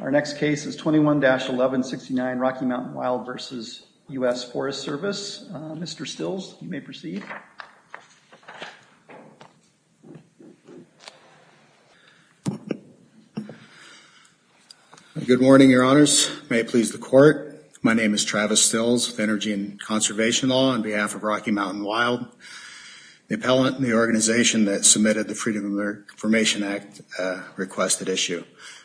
Our next case is 21-1169 Rocky Mountain Wild v. U.S. Forest Service. Mr. Stills, you may proceed. Good morning, your honors. May it please the court. My name is Travis Stills, of Energy and Conservation Law, on behalf of Rocky Mountain Wild. The appellant and the organization that submitted the Freedom of Information Act requested issue.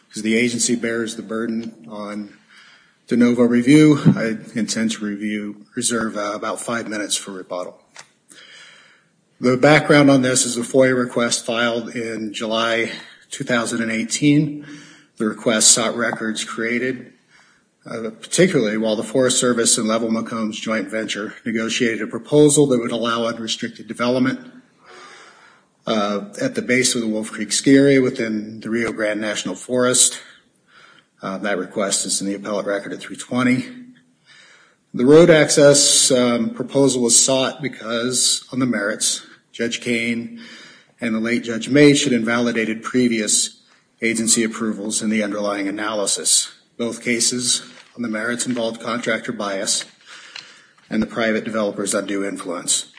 Because the agency bears the burden on de novo review, I intend to reserve about five minutes for rebuttal. The background on this is a FOIA request filed in July 2018. The request sought records created, particularly while the Forest Service and Level McCombs Joint Venture negotiated a proposal that would allow unrestricted development at the base of the Wolf Creek Ski Area within the Rio Grande National Forest. That request is in the appellate record at 320. The road access proposal was sought because, on the merits, Judge Kane and the late Judge May should invalidated previous agency approvals in the underlying analysis. Both cases on the merits involved contractor bias and the private developer's undue influence.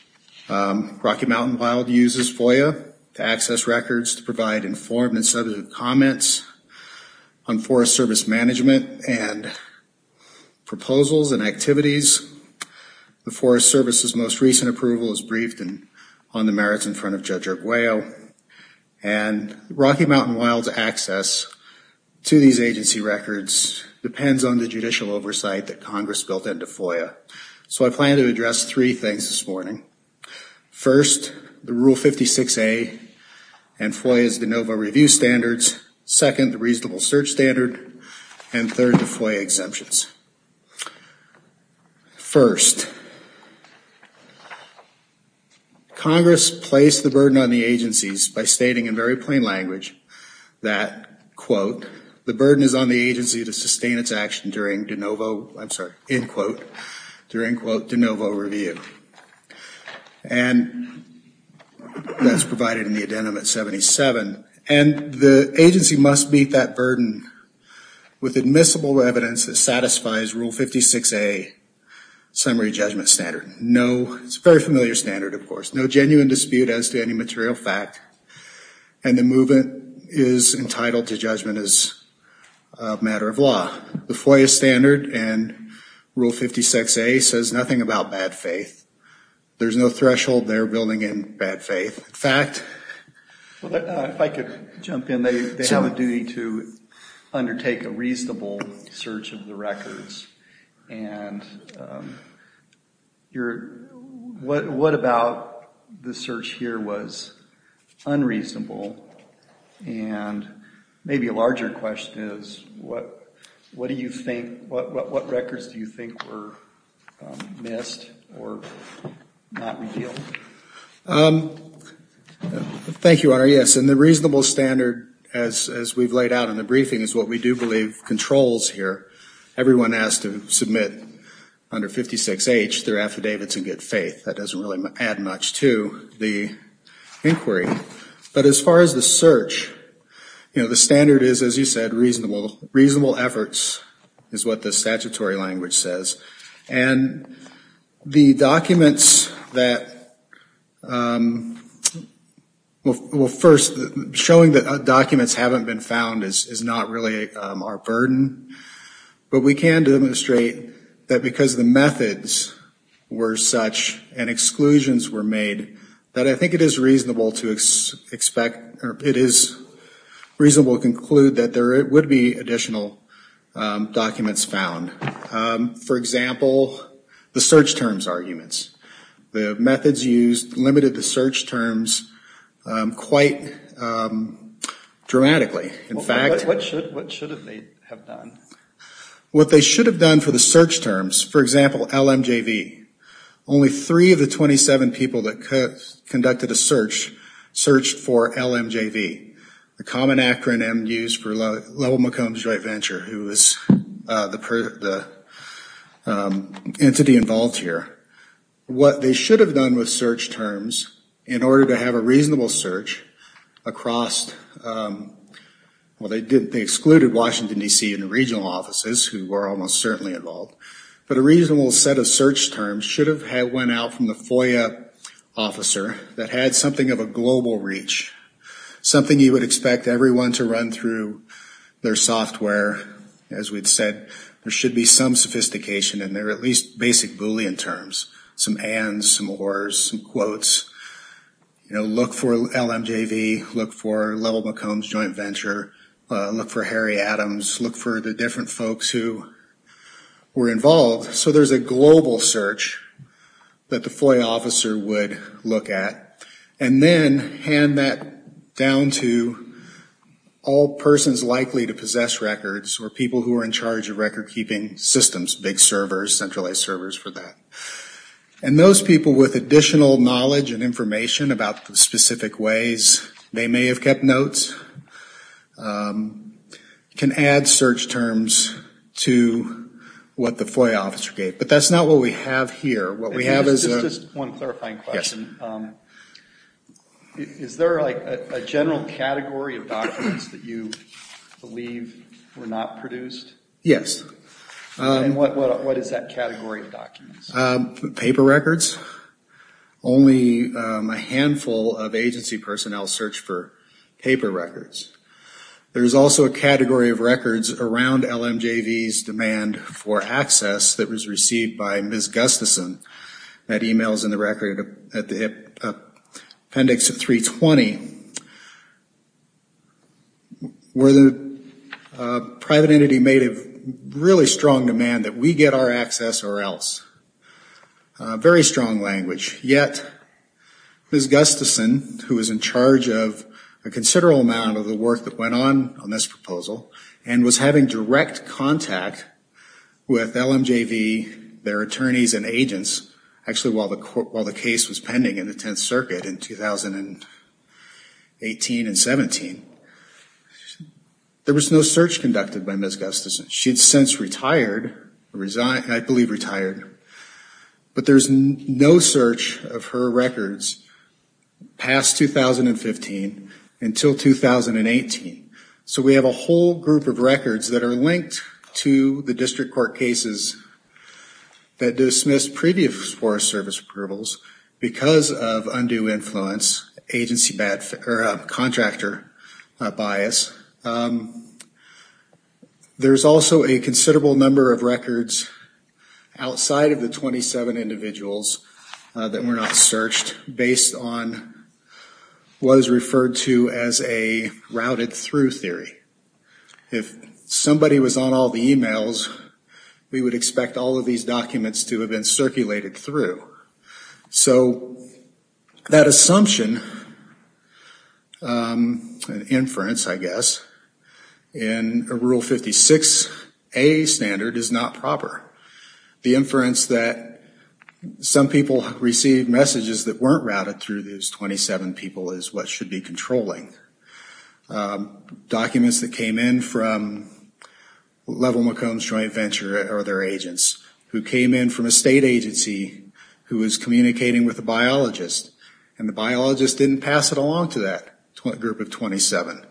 Rocky Mountain Wild uses FOIA to access records to provide informed and substantive comments on Forest Service management and proposals and activities. The Forest Service's most recent approval is briefed on the merits in front of Judge Urtweil. And Rocky Mountain Wild's access to these agency records depends on the judicial oversight that Congress built into FOIA. So I plan to address three things this morning. First, the Rule 56A and FOIA's de novo review standards. Second, the reasonable search standard. And third, the FOIA exemptions. First, Congress placed the burden on the agencies by stating in very plain language that, quote, the burden is on the agency to sustain its action during de novo, I'm sorry, in quote, during, quote, de novo review. And that's provided in the addendum at 77. And the agency must meet that burden with admissible evidence that satisfies Rule 56A summary judgment standard. No, it's a very familiar standard, of course. No genuine dispute as to any material fact. And the movement is entitled to judgment as a matter of law. The FOIA standard and Rule 56A says nothing about bad faith. There's no threshold there building in bad faith. If I could jump in. They have a duty to undertake a reasonable search of the records. And what about the search here was unreasonable? And maybe a larger question is, what records do you think were missed or not revealed? Thank you, Honor. Yes, and the reasonable standard, as we've laid out in the briefing, is what we do believe controls here. Everyone has to submit under 56H their affidavits and get faith. That doesn't really add much to the inquiry. But as far as the search, you know, the standard is, as you said, reasonable. Reasonable efforts is what the statutory language says. And the documents that, well, first, showing that documents haven't been found is not really our burden. But we can demonstrate that because the methods were such and exclusions were made, that I think it is reasonable to expect or it is reasonable to conclude that there would be additional documents found. For example, the search terms arguments. The methods used limited the search terms quite dramatically. What should they have done? What they should have done for the search terms, for example, LMJV, only three of the 27 people that conducted a search searched for LMJV, the common acronym used for LMJV, who was the entity involved here. What they should have done with search terms in order to have a reasonable search across, well, they excluded Washington, D.C. and the regional offices who were almost certainly involved. But a reasonable set of search terms should have went out from the FOIA officer that had something of a global reach, something you would expect everyone to run through their software. As we'd said, there should be some sophistication in there, at least basic Boolean terms, some ands, some ors, some quotes. You know, look for LMJV, look for Level McCombs Joint Venture, look for Harry Adams, look for the different folks who were involved. So there's a global search that the FOIA officer would look at. And then hand that down to all persons likely to possess records or people who are in charge of record-keeping systems, big servers, centralized servers for that. And those people with additional knowledge and information about the specific ways they may have kept notes can add search terms to what the FOIA officer gave. But that's not what we have here. Just one clarifying question. Is there like a general category of documents that you believe were not produced? Yes. And what is that category of documents? Paper records. Only a handful of agency personnel search for paper records. There is also a category of records around LMJV's demand for access that was received by Ms. Gustafson. That e-mail is in the record, Appendix 320, where the private entity made a really strong demand that we get our access or else. Very strong language. Yet, Ms. Gustafson, who was in charge of a considerable amount of the work that went on on this proposal and was having direct contact with LMJV, their attorneys and agents, actually while the case was pending in the Tenth Circuit in 2018 and 17, there was no search conducted by Ms. Gustafson. She had since retired, resigned, I believe retired. But there's no search of her records past 2015 until 2018. So we have a whole group of records that are linked to the district court cases that dismissed previous Forest Service approvals because of undue influence, agency contractor bias. There's also a considerable number of records outside of the 27 individuals that were not searched based on what is referred to as a routed through theory. If somebody was on all the e-mails, we would expect all of these documents to have been circulated through. So that assumption, an inference I guess, in a Rule 56A standard is not proper. The inference that some people received messages that weren't routed through these 27 people is what should be controlling. Documents that came in from LMJV or their agents, who came in from a state agency who was communicating with a biologist and the biologist didn't pass it along to that group of 27.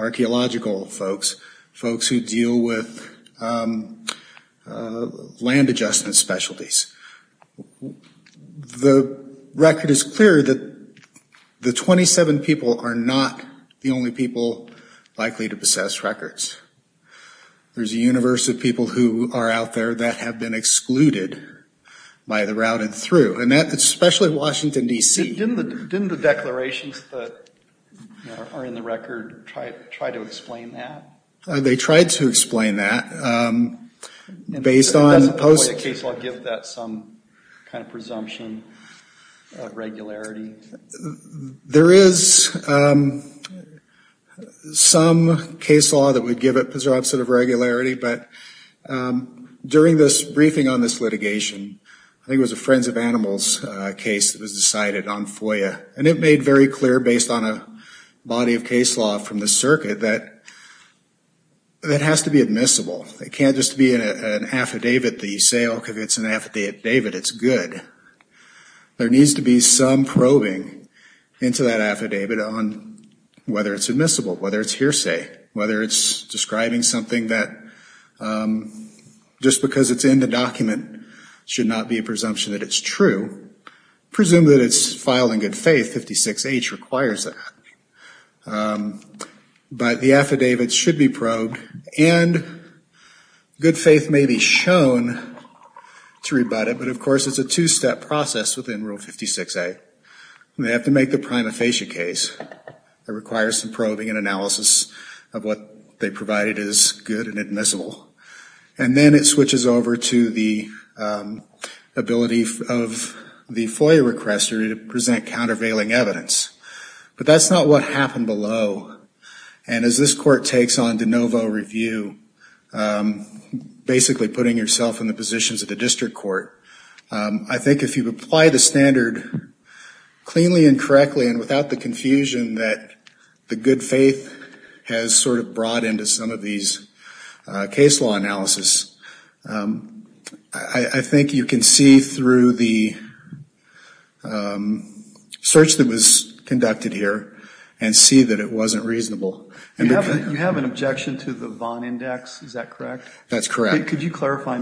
Archaeological folks, folks who deal with land adjustment specialties. The record is clear that the 27 people are not the only people likely to possess records. There's a universe of people who are out there that have been excluded by the routed through, and that's especially Washington, D.C. Didn't the declarations that are in the record try to explain that? They tried to explain that based on... Doesn't the FOIA case law give that some kind of presumption of regularity? There is some case law that would give it presumption of regularity, but during this briefing on this litigation, I think it was a Friends of Animals case that was decided on FOIA, and it made very clear based on a body of case law from the circuit that it has to be admissible. It can't just be an affidavit that you say, oh, because it's an affidavit, it's good. There needs to be some probing into that affidavit on whether it's admissible, whether it's hearsay, whether it's describing something that just because it's in the document should not be a presumption that it's true. Presume that it's filed in good faith. 56H requires that. But the affidavit should be probed, and good faith may be shown to rebut it, but of course it's a two-step process within Rule 56A. They have to make the prima facie case. It requires some probing and analysis of what they provided as good and admissible. And then it switches over to the ability of the FOIA requester to present countervailing evidence. But that's not what happened below. And as this court takes on de novo review, basically putting yourself in the positions of the district court, I think if you apply the standard cleanly and correctly and without the confusion that the good faith has sort of brought into some of these case law analysis, I think you can see through the search that was conducted here and see that it wasn't reasonable. And you have an objection to the Vaughn Index. Is that correct? That's correct. Could you clarify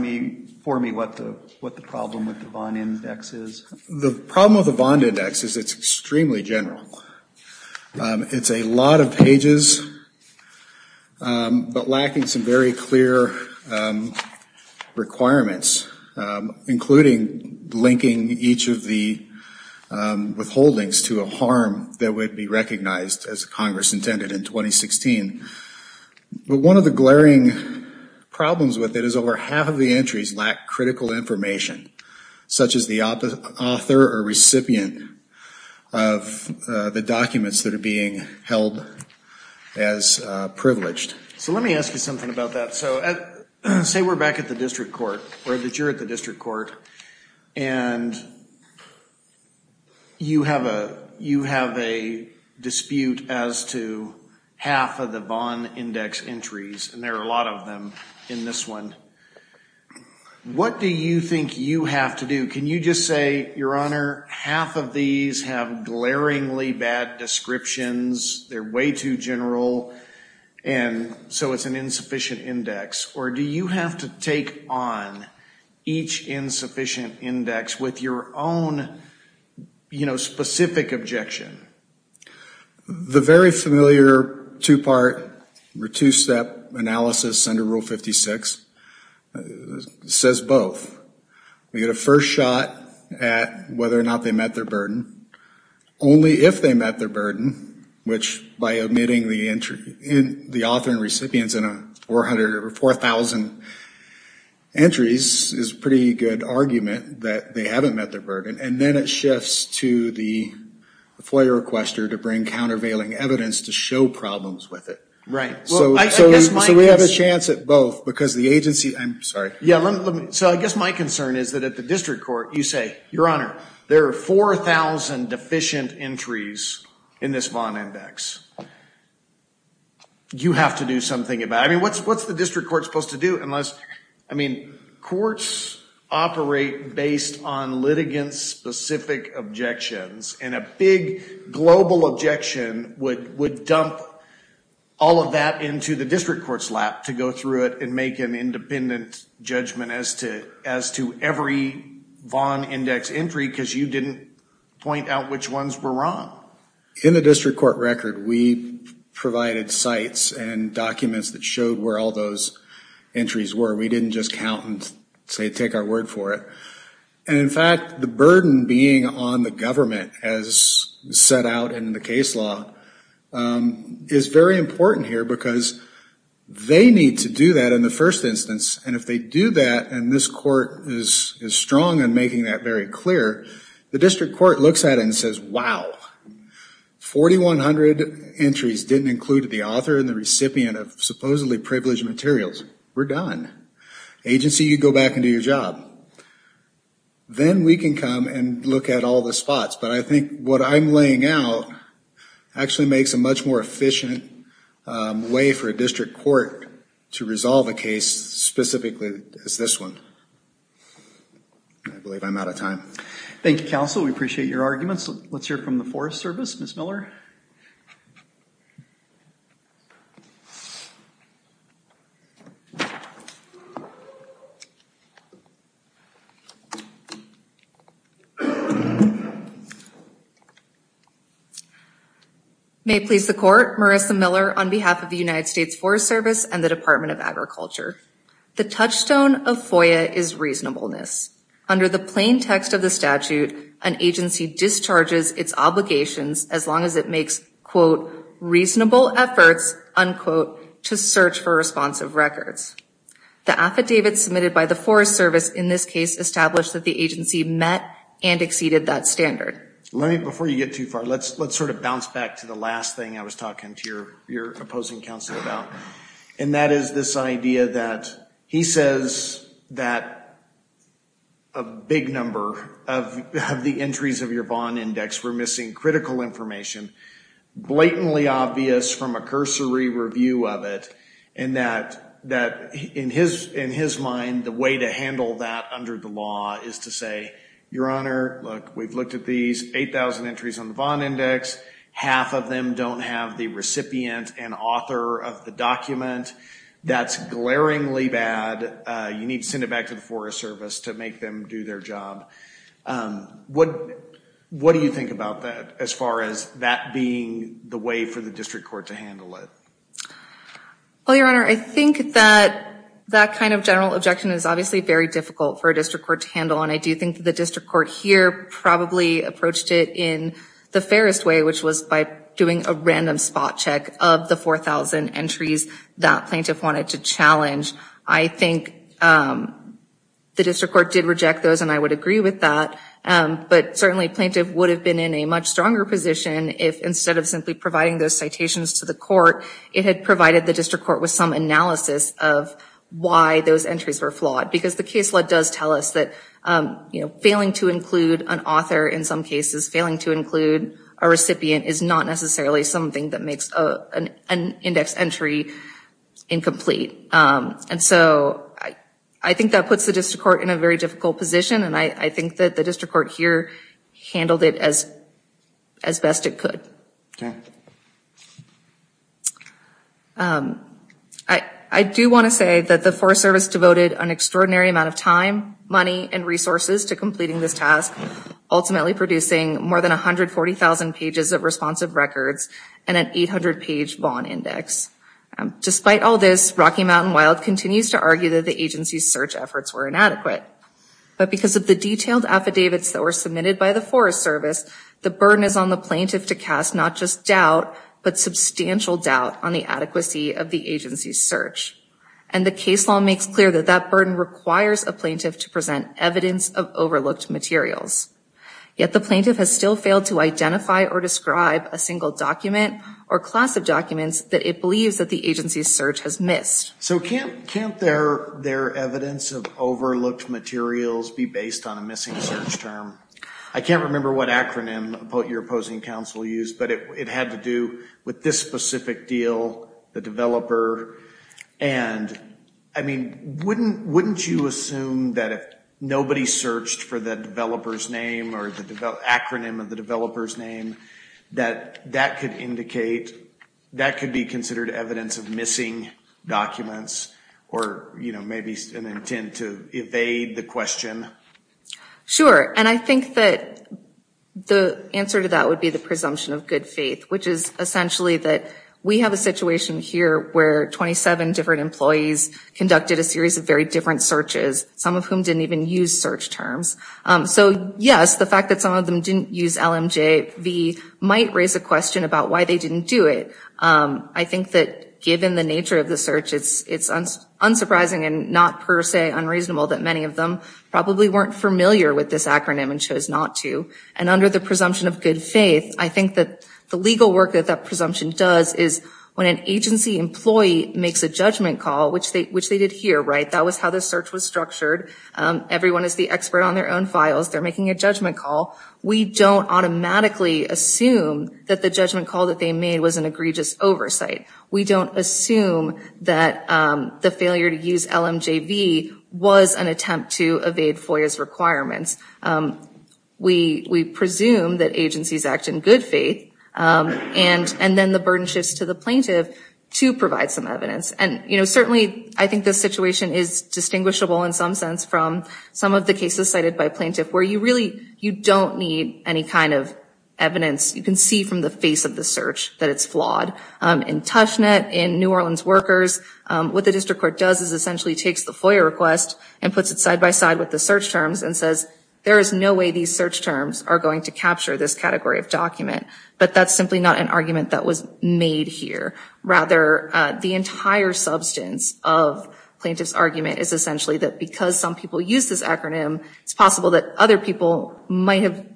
for me what the problem with the Vaughn Index is? The problem with the Vaughn Index is it's extremely general. It's a lot of pages but lacking some very clear requirements, including linking each of the withholdings to a harm that would be recognized as Congress intended in 2016. But one of the glaring problems with it is over half of the entries lack critical information, such as the author or recipient of the documents that are being held as privileged. So let me ask you something about that. Say we're back at the district court, or that you're at the district court, and you have a dispute as to half of the Vaughn Index entries, and there are a lot of them in this one. What do you think you have to do? Can you just say, Your Honor, half of these have glaringly bad descriptions, they're way too general, and so it's an insufficient index? Or do you have to take on each insufficient index with your own specific objection? The very familiar two-part or two-step analysis under Rule 56 says both. We get a first shot at whether or not they met their burden. Only if they met their burden, which, by omitting the author and recipients in 4,000 entries, is a pretty good argument that they haven't met their burden. And then it shifts to the FOIA requester to bring countervailing evidence to show problems with it. Right. So we have a chance at both, because the agency – I'm sorry. Yeah, so I guess my concern is that at the district court, you say, Your Honor, there are 4,000 deficient entries in this Vaughn Index. You have to do something about it. I mean, what's the district court supposed to do unless – I mean, courts operate based on litigant-specific objections, and a big global objection would dump all of that into the district court's lap to go through it and make an independent judgment as to every Vaughn Index entry because you didn't point out which ones were wrong. In the district court record, we provided sites and documents that showed where all those entries were. We didn't just count and say take our word for it. And, in fact, the burden being on the government, as set out in the case law, is very important here because they need to do that in the first instance. And if they do that, and this court is strong in making that very clear, the district court looks at it and says, Wow, 4,100 entries didn't include the author and the recipient of supposedly privileged materials. We're done. Agency, you go back and do your job. Then we can come and look at all the spots. But I think what I'm laying out actually makes a much more efficient way for a district court to resolve a case specifically as this one. I believe I'm out of time. Thank you, Counsel. We appreciate your arguments. Let's hear from the Forest Service. Ms. Miller. May it please the Court. Marissa Miller on behalf of the United States Forest Service and the Department of Agriculture. The touchstone of FOIA is reasonableness. Under the plain text of the statute, an agency discharges its obligations as long as it makes, quote, reasonable efforts, unquote, to search for responsive records. The affidavits submitted by the Forest Service in this case establish that the agency met and exceeded that standard. Before you get too far, let's sort of bounce back to the last thing I was talking to your opposing counsel about, and that is this idea that he says that a big number of the entries of your bond index were missing critical information, blatantly obvious from a cursory review of it, and that in his mind the way to handle that under the law is to say, Your Honor, look, we've looked at these 8,000 entries on the bond index. Half of them don't have the recipient and author of the document. That's glaringly bad. You need to send it back to the Forest Service to make them do their job. What do you think about that as far as that being the way for the district court to handle it? Well, Your Honor, I think that that kind of general objection is obviously very difficult for a district court to handle, and I do think the district court here probably approached it in the fairest way, which was by doing a random spot check of the 4,000 entries that plaintiff wanted to challenge. I think the district court did reject those, and I would agree with that, but certainly plaintiff would have been in a much stronger position if instead of simply providing those citations to the court, it had provided the district court with some analysis of why those entries were flawed, because the case law does tell us that failing to include an author in some cases, failing to include a recipient is not necessarily something that makes an index entry incomplete. And so I think that puts the district court in a very difficult position, and I think that the district court here handled it as best it could. Okay. I do want to say that the Forest Service devoted an extraordinary amount of time, money, and resources to completing this task, ultimately producing more than 140,000 pages of responsive records and an 800-page bond index. Despite all this, Rocky Mountain Wild continues to argue that the agency's search efforts were inadequate, but because of the detailed affidavits that were submitted by the Forest Service, the burden is on the plaintiff to cast not just doubt, but substantial doubt on the adequacy of the agency's search. And the case law makes clear that that burden requires a plaintiff to present evidence of overlooked materials. Yet the plaintiff has still failed to identify or describe a single document or class of documents that it believes that the agency's search has missed. So can't their evidence of overlooked materials be based on a missing search term? I can't remember what acronym your opposing counsel used, but it had to do with this specific deal, the developer. And, I mean, wouldn't you assume that if nobody searched for the developer's name or the acronym of the developer's name, that that could indicate, that that could be considered evidence of missing documents or, you know, maybe an intent to evade the question? Sure, and I think that the answer to that would be the presumption of good faith, which is essentially that we have a situation here where 27 different employees conducted a series of very different searches, some of whom didn't even use search terms. So, yes, the fact that some of them didn't use LMJV might raise a question about why they didn't do it. I think that given the nature of the search, it's unsurprising and not per se unreasonable that many of them probably weren't familiar with this acronym and chose not to. And under the presumption of good faith, I think that the legal work that that presumption does is when an agency employee makes a judgment call, which they did here, right? That was how the search was structured. Everyone is the expert on their own files. They're making a judgment call. We don't automatically assume that the judgment call that they made was an egregious oversight. We don't assume that the failure to use LMJV was an attempt to evade FOIA's requirements. We presume that agencies act in good faith, and then the burden shifts to the plaintiff to provide some evidence. And, you know, certainly I think this situation is distinguishable in some sense from some of the cases cited by plaintiff where you really, you don't need any kind of evidence. You can see from the face of the search that it's flawed. In Tushnet, in New Orleans workers, what the district court does is essentially takes the FOIA request and puts it side by side with the search terms and says, there is no way these search terms are going to capture this category of document. But that's simply not an argument that was made here. Rather, the entire substance of plaintiff's argument is essentially that because some people use this acronym, it's possible that other people might have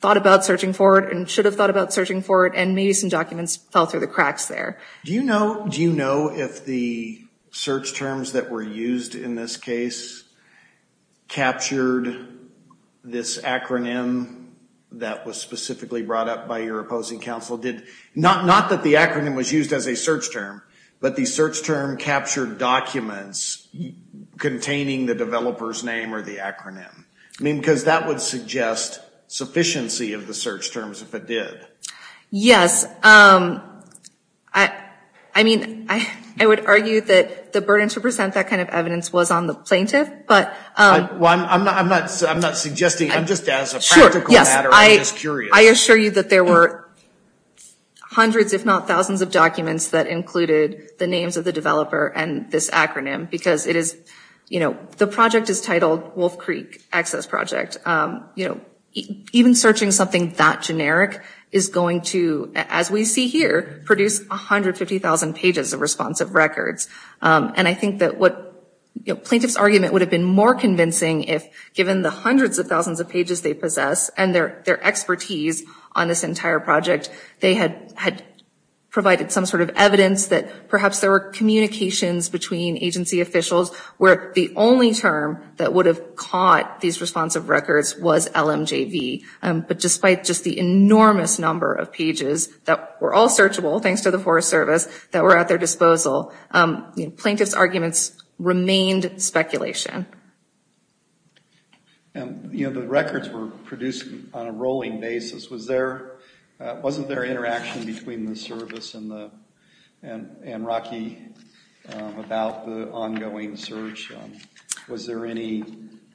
thought about searching for it and should have thought about searching for it, and maybe some documents fell through the cracks there. Do you know if the search terms that were used in this case captured this acronym that was specifically brought up by your opposing counsel? Not that the acronym was used as a search term, but the search term captured documents containing the developer's name or the acronym. I mean, because that would suggest sufficiency of the search terms if it did. Yes. I mean, I would argue that the burden to present that kind of evidence was on the plaintiff. I'm not suggesting, I'm just as a practical matter, I'm just curious. I assure you that there were hundreds if not thousands of documents that included the names of the developer and this acronym because it is, you know, the project is titled Wolf Creek Access Project. You know, even searching something that generic is going to, as we see here, produce 150,000 pages of responsive records. And I think that what plaintiff's argument would have been more convincing if given the hundreds of thousands of pages they possess and their expertise on this entire project, they had provided some sort of evidence that perhaps there were communications between agency officials where the only term that would have caught these responsive records was LMJV. But despite just the enormous number of pages that were all searchable, thanks to the Forest Service, that were at their disposal, plaintiff's arguments remained speculation. You know, the records were produced on a rolling basis. Was there, wasn't there interaction between the service and Rocky about the ongoing search? Was there any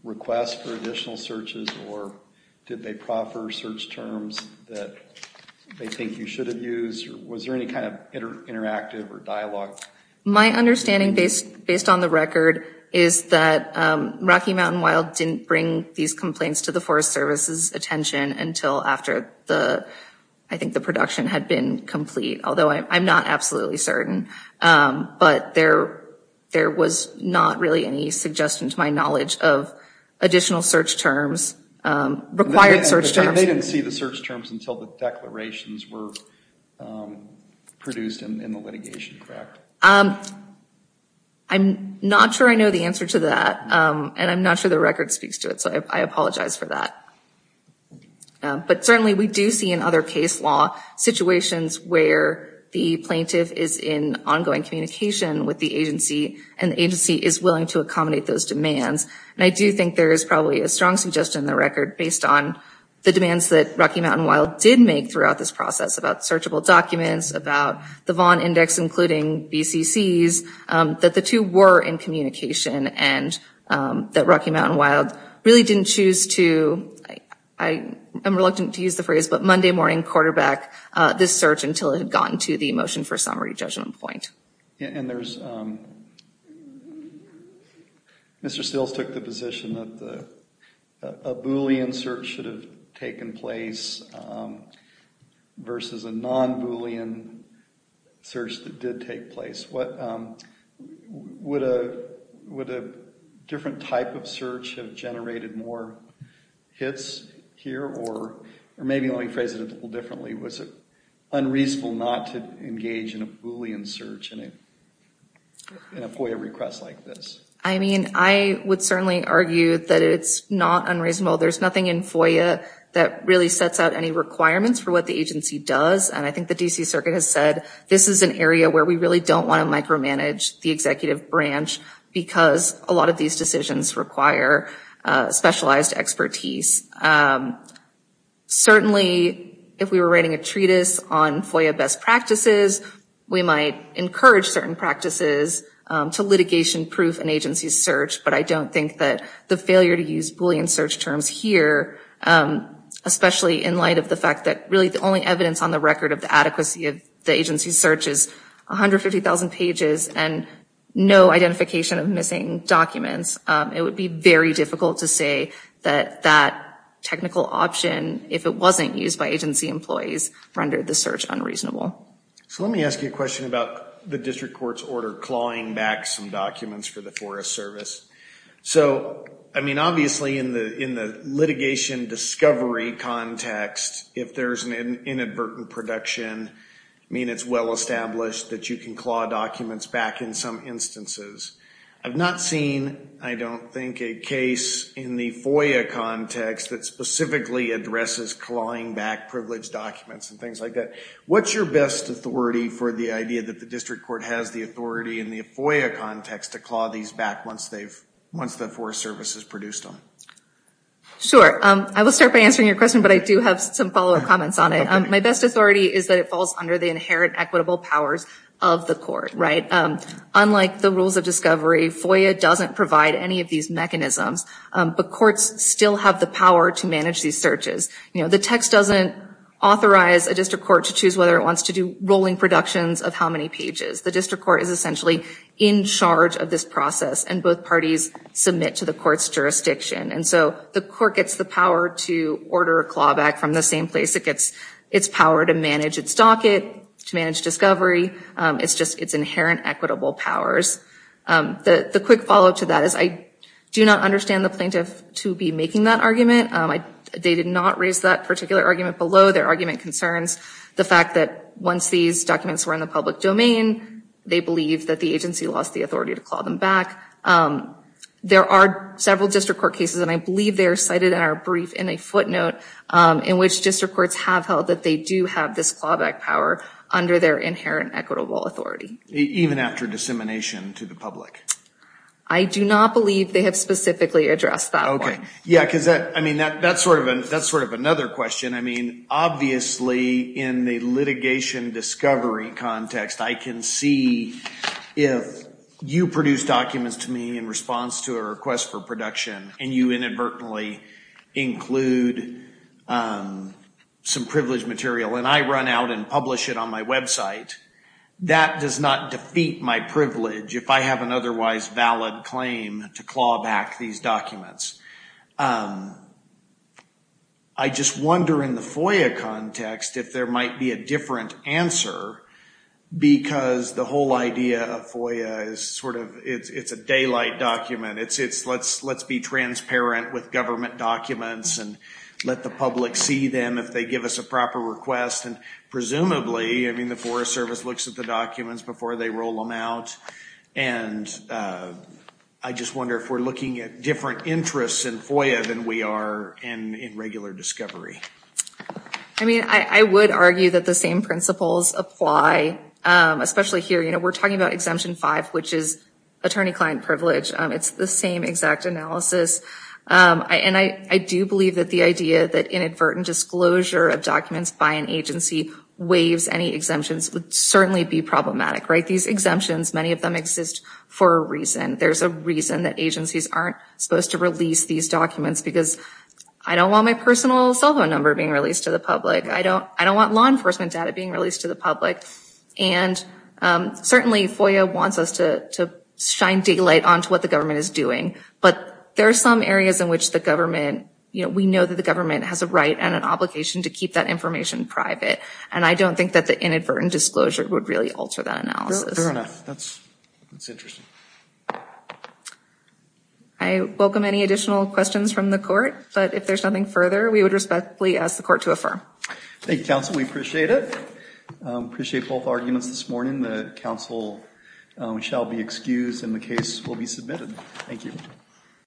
request for additional searches or did they proffer search terms that they think you should have used? Was there any kind of interactive or dialogue? My understanding, based on the record, is that Rocky Mountain Wild didn't bring these complaints to the Forest Service's attention until after I think the production had been complete, although I'm not absolutely certain. But there was not really any suggestion to my knowledge of additional search terms, required search terms. They didn't see the search terms until the declarations were produced in the litigation, correct? I'm not sure I know the answer to that, and I'm not sure the record speaks to it, so I apologize for that. But certainly we do see in other case law situations where the plaintiff is in ongoing communication with the agency and the agency is willing to accommodate those demands. And I do think there is probably a strong suggestion in the record, based on the demands that Rocky Mountain Wild did make throughout this process about searchable documents, about the Vaughn Index including BCCs, that the two were in communication and that Rocky Mountain Wild really didn't choose to, I'm reluctant to use the phrase, but Monday morning quarterback this search until it had gotten to the motion for summary judgment point. And there's, Mr. Stills took the position that a Boolean search should have taken place versus a non-Boolean search that did take place. Would a different type of search have generated more hits here, or maybe let me phrase it a little differently. Was it unreasonable not to engage in a Boolean search in a FOIA request like this? I mean, I would certainly argue that it's not unreasonable. There's nothing in FOIA that really sets out any requirements for what the agency does. And I think the D.C. Circuit has said this is an area where we really don't want to micromanage the executive branch because a lot of these decisions require specialized expertise. Certainly, if we were writing a treatise on FOIA best practices, we might encourage certain practices to litigation proof an agency's search, but I don't think that the failure to use Boolean search terms here, especially in light of the fact that really the only evidence on the record of the adequacy of the agency's search is 150,000 pages and no identification of missing documents, it would be very difficult to say that that technical option, if it wasn't used by agency employees, rendered the search unreasonable. So let me ask you a question about the district court's order clawing back some documents for the Forest Service. So, I mean, obviously in the litigation discovery context, if there's an inadvertent production, I mean, it's well established that you can claw documents back in some instances. I've not seen, I don't think, a case in the FOIA context that specifically addresses clawing back privileged documents and things like that. What's your best authority for the idea that the district court has the authority in the FOIA context to claw these back once the Forest Service has produced them? Sure. I will start by answering your question, but I do have some follow-up comments on it. My best authority is that it falls under the inherent equitable powers of the court, right? Unlike the rules of discovery, FOIA doesn't provide any of these mechanisms, but courts still have the power to manage these searches. You know, the text doesn't authorize a district court to choose whether it wants to do rolling productions of how many pages. The district court is essentially in charge of this process, and both parties submit to the court's jurisdiction. And so the court gets the power to order a clawback from the same place. It gets its power to manage its docket, to manage discovery. It's just its inherent equitable powers. The quick follow-up to that is I do not understand the plaintiff to be making that argument. They did not raise that particular argument below. Their argument concerns the fact that once these documents were in the public domain, they believe that the agency lost the authority to claw them back. There are several district court cases, and I believe they are cited in our brief in a footnote, in which district courts have held that they do have this clawback power under their inherent equitable authority. Even after dissemination to the public? I do not believe they have specifically addressed that point. Okay. Yeah, because that's sort of another question. I mean, obviously in the litigation discovery context, I can see if you produce documents to me in response to a request for production, and you inadvertently include some privileged material, and I run out and publish it on my website, that does not defeat my privilege if I have an otherwise valid claim to claw back these documents. I just wonder in the FOIA context if there might be a different answer, because the whole idea of FOIA is sort of it's a daylight document. It's let's be transparent with government documents and let the public see them if they give us a proper request, and presumably, I mean, the Forest Service looks at the documents before they roll them out, and I just wonder if we're looking at different interests in FOIA than we are in regular discovery. I mean, I would argue that the same principles apply, especially here. You know, we're talking about Exemption 5, which is attorney-client privilege. It's the same exact analysis, and I do believe that the idea that inadvertent disclosure of documents by an agency waives any exemptions would certainly be problematic, right? These exemptions, many of them exist for a reason. There's a reason that agencies aren't supposed to release these documents, because I don't want my personal cell phone number being released to the public. I don't want law enforcement data being released to the public, and certainly, FOIA wants us to shine daylight onto what the government is doing, but there are some areas in which the government, you know, we know that the government has a right and an obligation to keep that information private, and I don't think that the inadvertent disclosure would really alter that analysis. Fair enough. That's interesting. I welcome any additional questions from the court, but if there's nothing further, we would respectfully ask the court to affirm. Thank you, counsel. We appreciate it. We appreciate both arguments this morning. The counsel shall be excused, and the case will be submitted. Thank you.